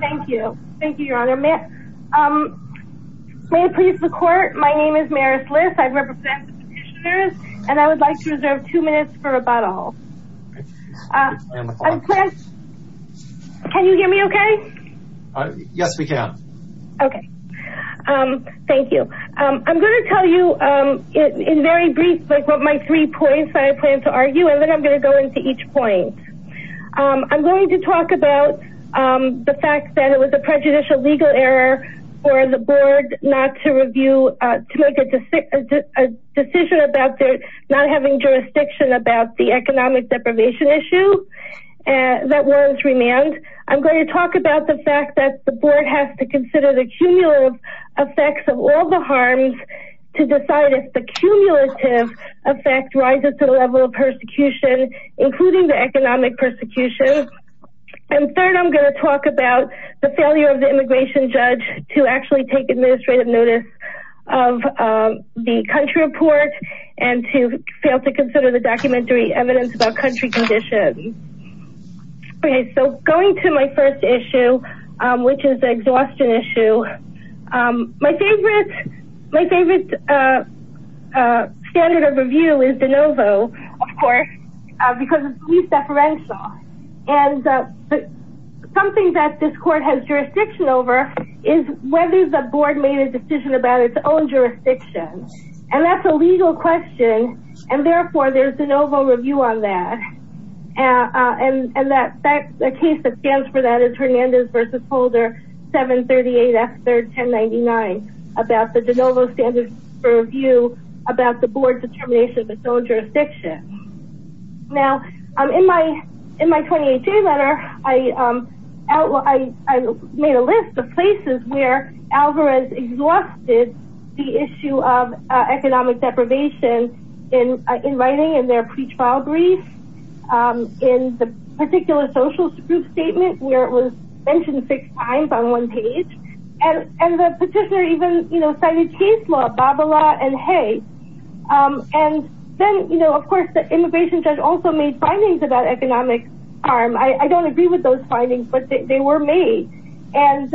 Thank you. Thank you, Your Honor. May it please the Court, my name is Maris Liss. I represent the petitioners. And I would like to reserve two minutes for rebuttal. Can you hear me okay? Yes, we can. Okay. Thank you. I'm going to tell you in very brief what my three points are that I plan to argue, and then I'm going to go into each point. I'm going to talk about the fact that it was a prejudicial legal error for the Board to make a decision about not having jurisdiction about the economic deprivation issue that warrants remand. I'm going to talk about the fact that the Board has to consider the cumulative effects of all the harms to decide if the cumulative effect rises to the level of persecution, including the economic persecution. And third, I'm going to talk about the failure of the immigration judge to actually take administrative notice of the country report and to fail to consider the documentary evidence about country conditions. Okay, so going to my first issue, which is the exhaustion issue. My favorite standard of review is de novo, of course, because it's police deferential. And something that this Court has jurisdiction over is whether the Board made a decision about its own jurisdiction. And that's a legal question, and therefore there's de novo review on that. And the case that stands for that is Hernandez v. Holder, 738 F. 3rd, 1099, about the de novo standard for review about the Board's determination of its own jurisdiction. Now, in my 28-J letter, I made a list of places where Alvarez exhausted the issue of economic deprivation in writing in their pre-trial brief, in the particular social group statement where it was mentioned six times on one page. And the petitioner even, you know, cited case law, Babala and Hay. And then, you know, of course, the immigration judge also made findings about economic harm. I don't agree with those findings, but they were made. And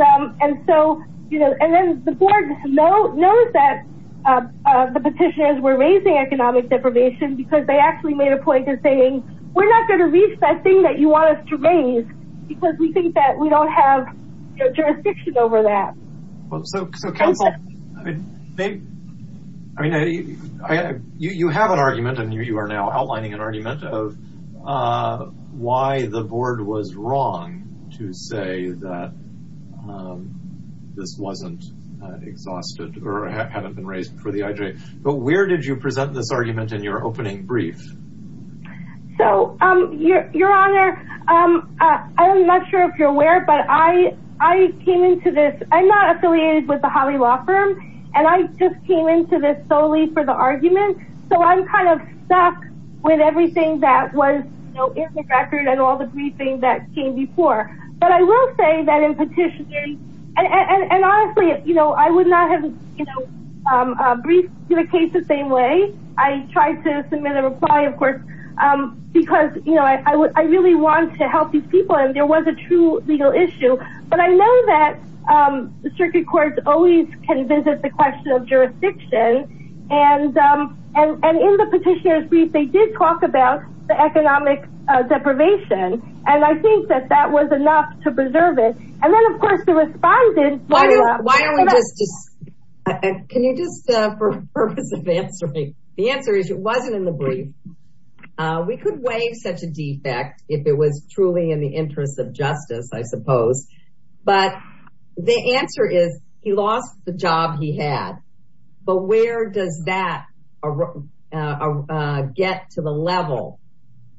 so, you know, and then the Board knows that the petitioners were raising economic deprivation because they actually made a point in saying, we're not going to reach that thing that you want us to raise because we think that we don't have jurisdiction over that. Well, so counsel, I mean, you have an argument, and you are now outlining an argument, of why the Board was wrong to say that this wasn't exhausted or hadn't been raised before the IJ. But where did you present this argument in your opening brief? So, Your Honor, I'm not sure if you're aware, but I came into this, I'm not affiliated with the Hawley Law Firm, and I just came into this solely for the argument. So I'm kind of stuck with everything that was in the record and all the briefings that came before. But I will say that in petitioning, and honestly, you know, I would not have briefed the case the same way. I tried to submit a reply, of course, because, you know, I really want to help these people, and there was a true legal issue. But I know that the circuit courts always can visit the question of jurisdiction. And in the petitioner's brief, they did talk about the economic deprivation, and I think that that was enough to preserve it. And then, of course, the respondent… Why don't we just, can you just, for the purpose of answering, the answer is it wasn't in the brief. We could waive such a defect if it was truly in the interest of justice, I suppose. But the answer is he lost the job he had. But where does that get to the level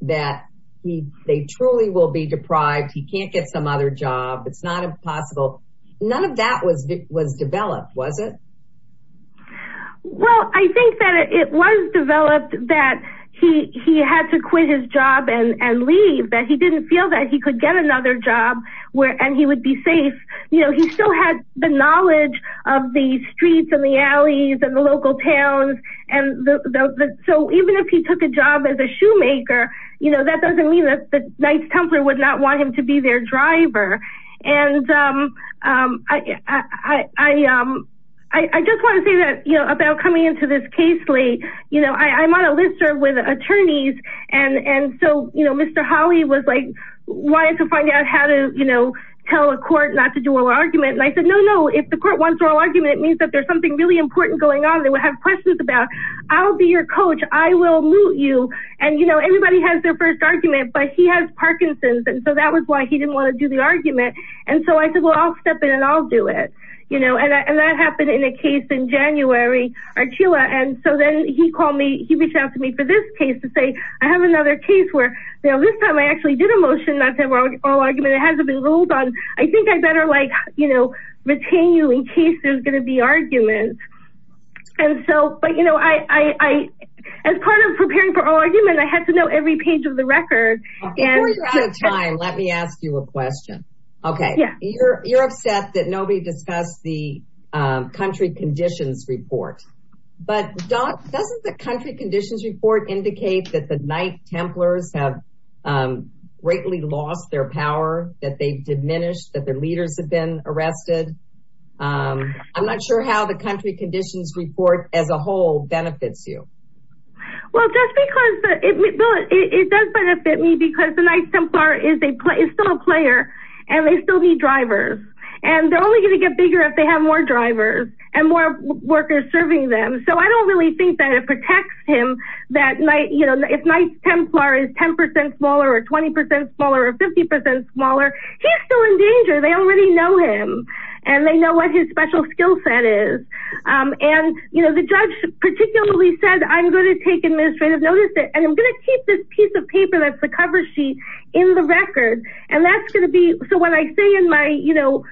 that they truly will be deprived, he can't get some other job, it's not impossible. None of that was developed, was it? Well, I think that it was developed that he had to quit his job and leave, that he didn't feel that he could get another job and he would be safe. You know, he still had the knowledge of the streets and the alleys and the local towns. And so even if he took a job as a shoemaker, you know, that doesn't mean that Knights Templar would not want him to be their driver. And I just want to say that, you know, about coming into this case late, you know, I'm on a list with attorneys. And so, you know, Mr. Holley was like wanting to find out how to, you know, tell a court not to do oral argument. And I said, no, no, if the court wants oral argument, it means that there's something really important going on. They will have questions about, I'll be your coach. I will moot you. And, you know, everybody has their first argument, but he has Parkinson's. And so that was why he didn't want to do the argument. And so I said, well, I'll step in and I'll do it, you know, and that happened in a case in January, Archula. And so then he called me, he reached out to me for this case to say, I have another case where, you know, this time I actually did a motion. I said, well, oral argument, it hasn't been ruled on. I think I better like, you know, retain you in case there's going to be arguments. And so, but, you know, I, as part of preparing for oral argument, I had to know every page of the record. Before you're out of time, let me ask you a question. Okay. You're upset that nobody discussed the country conditions report, but doesn't the country conditions report indicate that the Knight Templars have greatly lost their power, that they've diminished, that their leaders have been arrested? I'm not sure how the country conditions report as a whole benefits you. Well, just because it does benefit me because the Knight Templar is still a player and they still need drivers. And they're only going to get bigger if they have more drivers and more workers serving them. So I don't really think that it protects him that, you know, if Knight Templar is 10% smaller or 20% smaller or 50% smaller, he's still in danger. They already know him and they know what his special skill set is. And, you know, the judge particularly said, I'm going to take administrative notice. And I'm going to keep this piece of paper that's the cover sheet in the record. And that's going to be, so when I say in my, you know,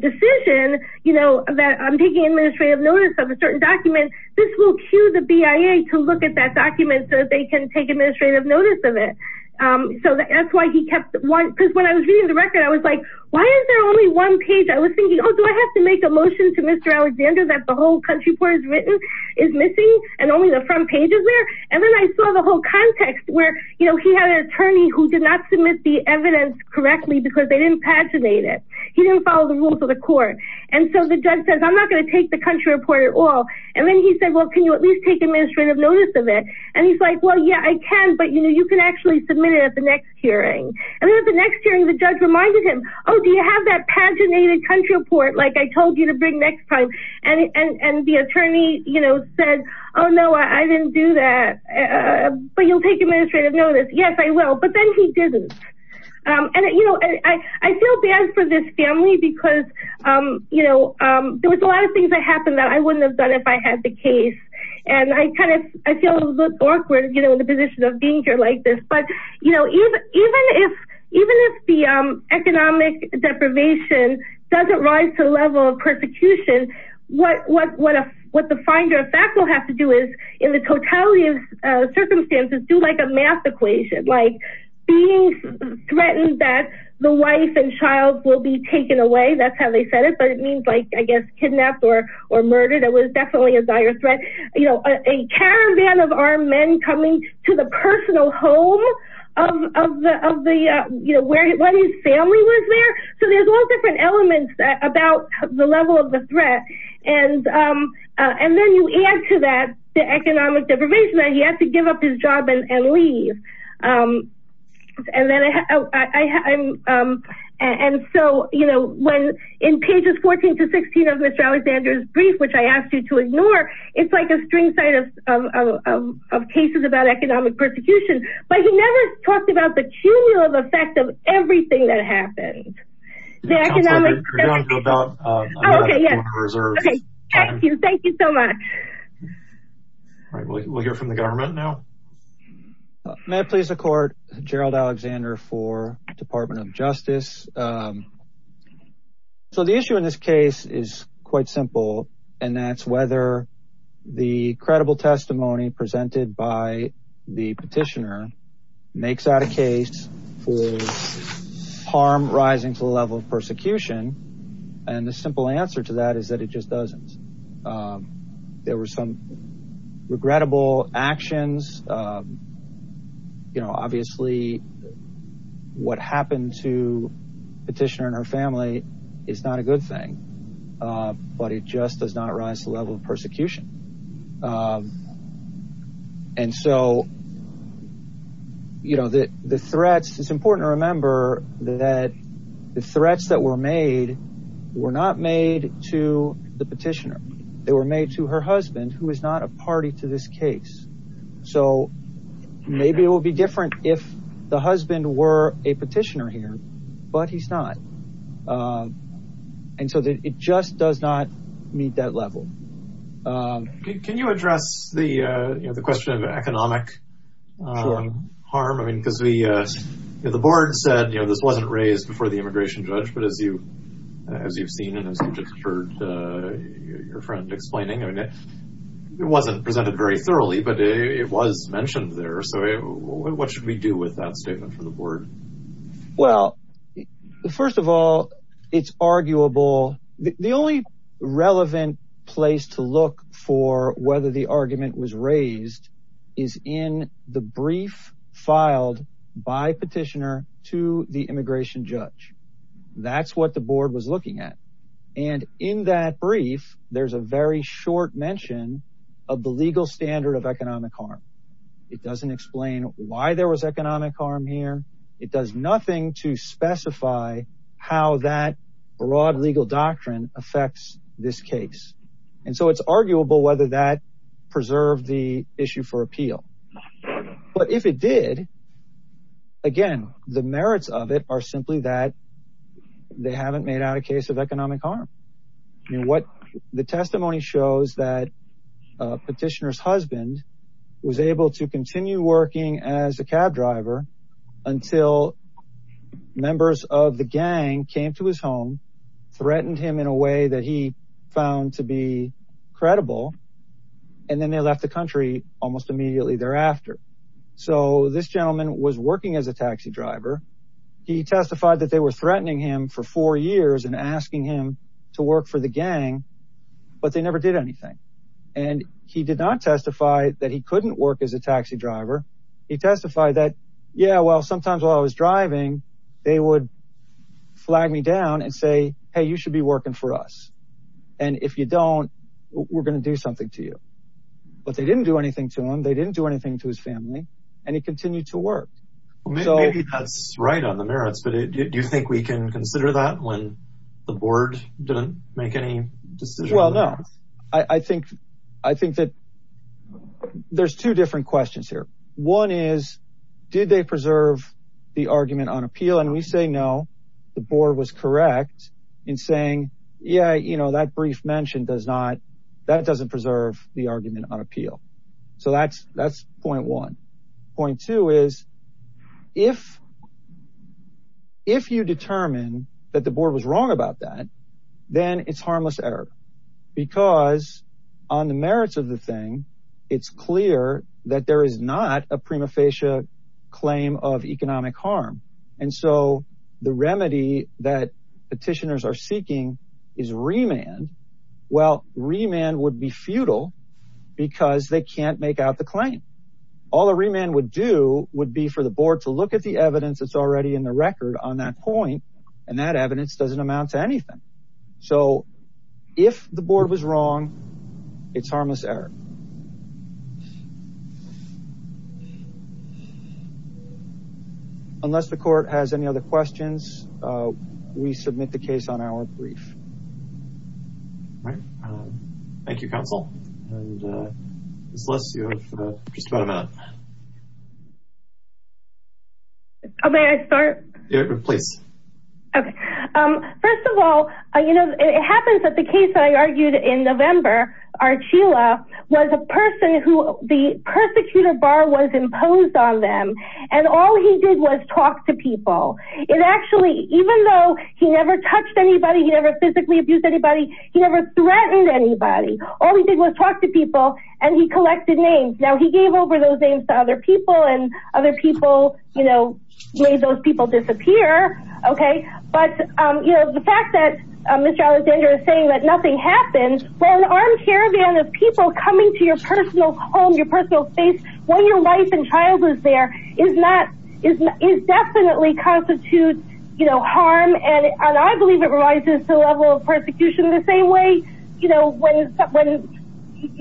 decision, you know, that I'm taking administrative notice of a certain document, this will cue the BIA to look at that document so that they can take administrative notice of it. So that's why he kept one, because when I was reading the record, I was like, why is there only one page? I was thinking, oh, do I have to make a motion to Mr. Alexander that the whole country report is written, is missing, and only the front page is there? And then I saw the whole context where, you know, he had an attorney who did not submit the evidence correctly because they didn't paginate it. He didn't follow the rules of the court. And so the judge says, I'm not going to take the country report at all. And then he said, well, can you at least take administrative notice of it? And he's like, well, yeah, I can, but, you know, you can actually submit it at the next hearing. And then at the next hearing, the judge reminded him, oh, do you have that paginated country report? Like I told you to bring next time. And the attorney, you know, said, oh no, I didn't do that. But you'll take administrative notice. Yes, I will. But then he didn't. And, you know, I feel bad for this family because, you know, there was a lot of things that happened that I wouldn't have done if I had the case. And I kind of, I feel a little awkward, you know, in the position of being here like this. But, you know, even, even if, even if the economic deprivation doesn't rise to the level of persecution, what, what, what, what the finder of fact will have to do is in the totality of circumstances do like a math equation, like being threatened that the wife and child will be taken away. That's how they said it, but it means like, I guess, kidnapped or, or murdered. It was definitely a dire threat, you know, A caravan of armed men coming to the personal home of the, of the, you know, where his family was there. So there's all different elements about the level of the threat. And, and then you add to that, the economic deprivation that he has to give up his job and leave. And then I, I, and so, you know, when in pages 14 to 16 of Mr. Alexander's brief, which I asked you to ignore, it's like a string side of, of, of, of cases about economic persecution, but he never talked about the cumulative effect of everything that happened. Okay. Yeah. Thank you. Thank you so much. All right. We'll hear from the government now. May I please record Gerald Alexander for department of justice. So the issue in this case is quite simple. And that's whether the credible testimony presented by the petitioner makes out a case for harm, rising to the level of persecution. And the simple answer to that is that it just doesn't, there were some regrettable actions, you know, obviously what happened to petitioner and her family is not a good thing, but it just does not rise to the level of persecution. And so, you know, the, the threats, it's important to remember that the threats that were made were not made to the petitioner. They were made to her husband who is not a party to this case. So maybe it will be different if the husband were a petitioner here, but he's not. And so it just does not meet that level. Can you address the, you know, the question of economic harm? I mean, because we, you know, the board said, you know, this wasn't raised before the immigration judge, but as you, as you've seen and as you just heard your friend explaining, I mean, it wasn't presented very thoroughly, but it was mentioned there. So what should we do with that statement from the board? Well, first of all, it's arguable. The only relevant place to look for whether the argument was raised is in the brief filed by petitioner to the immigration judge. That's what the board was looking at. And in that brief, there's a very short mention of the legal standard of economic harm. It doesn't explain why there was economic harm here. It does nothing to specify how that broad legal doctrine affects this case. And so it's arguable whether that preserve the issue for appeal, but if it did again, the merits of it are simply that they haven't made out a case of economic harm. What the testimony shows that petitioner's husband was able to continue working as a cab driver until members of the gang came to his home, threatened him in a way that he found to be credible. And then they left the country almost immediately thereafter. So this gentleman was working as a taxi driver. He testified that they were threatening him for four years and asking him to work for the gang, but they never did anything. And he did not testify that he couldn't work as a taxi driver. He testified that, yeah, well, sometimes while I was driving, they would flag me down and say, Hey, you should be working for us. And if you don't, we're going to do something to you, but they didn't do anything to him. They didn't do anything to his family and he continued to work. Maybe that's right on the merits, but do you think we can consider that when the board didn't make any decisions? I think, I think that there's two different questions here. One is, did they preserve the argument on appeal? And we say, no, the board was correct in saying, yeah, you know, that brief mention does not, that doesn't preserve the argument on appeal. So that's, that's 0.1. Point two is if, if you determine that the board was wrong about that, then it's harmless error because on the merits of the thing, it's clear that there is not a prima facie claim of economic harm. And so the remedy that petitioners are seeking is remand. Well, remand would be futile because they can't make out the claim. All the remand would do would be for the board to look at the evidence that's already in the record on that point. And that evidence doesn't amount to anything. So if the board was wrong, it's harmless error. Unless the court has any other questions, we submit the case on our brief. All right. Thank you, counsel. Oh, may I start? Yeah, please. Okay. First of all, you know, it happens that the case that I argued in November, our Sheila was a person who the persecutor bar was imposed on them. And all he did was talk to people. It actually, even though he never touched anybody, he never physically abused anybody. He never threatened anybody. All he did was talk to people and he collected names. Now he gave over those names to other people and other people, you know, made those people disappear. Okay. But, um, you know, the fact that, um, Mr. Alexander is saying that nothing happens when an armed caravan of people coming to your personal home, your personal space, when your wife and child was there is not, is definitely constitute, you know, harm. And I believe it rises to the level of persecution the same way, you know, when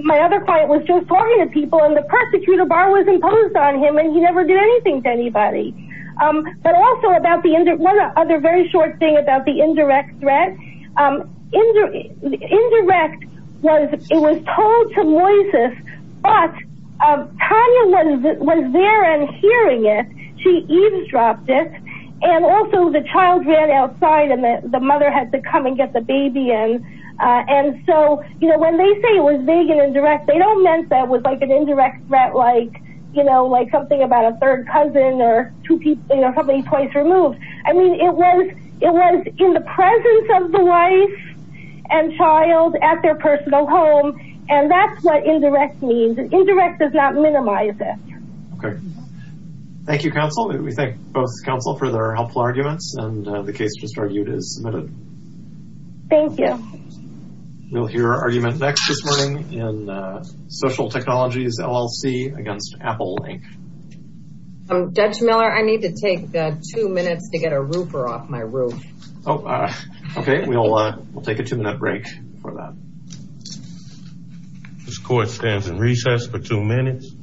my other client was just talking to people and the persecutor bar was imposed on him and he never did anything to anybody. Um, but also about the end of one other very short thing about the indirect threat. Um, indirect was it was told to Moises, but Tanya was there and hearing it, she eavesdropped it and also the child ran outside and the mother had to come and get the baby. And, uh, and so, you know, when they say it was big and indirect, they don't meant that it was like an indirect threat, like, you know, like something about a third cousin or two people, you know, somebody twice removed. I mean, it was, it was in the presence of the wife and child at their personal home. Um, and that's what indirect means. Indirect does not minimize it. Okay. Thank you counsel. We thank both counsel for their helpful arguments and the case just argued is submitted. Thank you. We'll hear argument next this morning in, uh, social technologies LLC against Apple link. I'm Dutch Miller. I need to take two minutes to get a roofer off my roof. Oh, okay. We'll, uh, we'll take a two minute break for that. This court stands in recess for two minutes.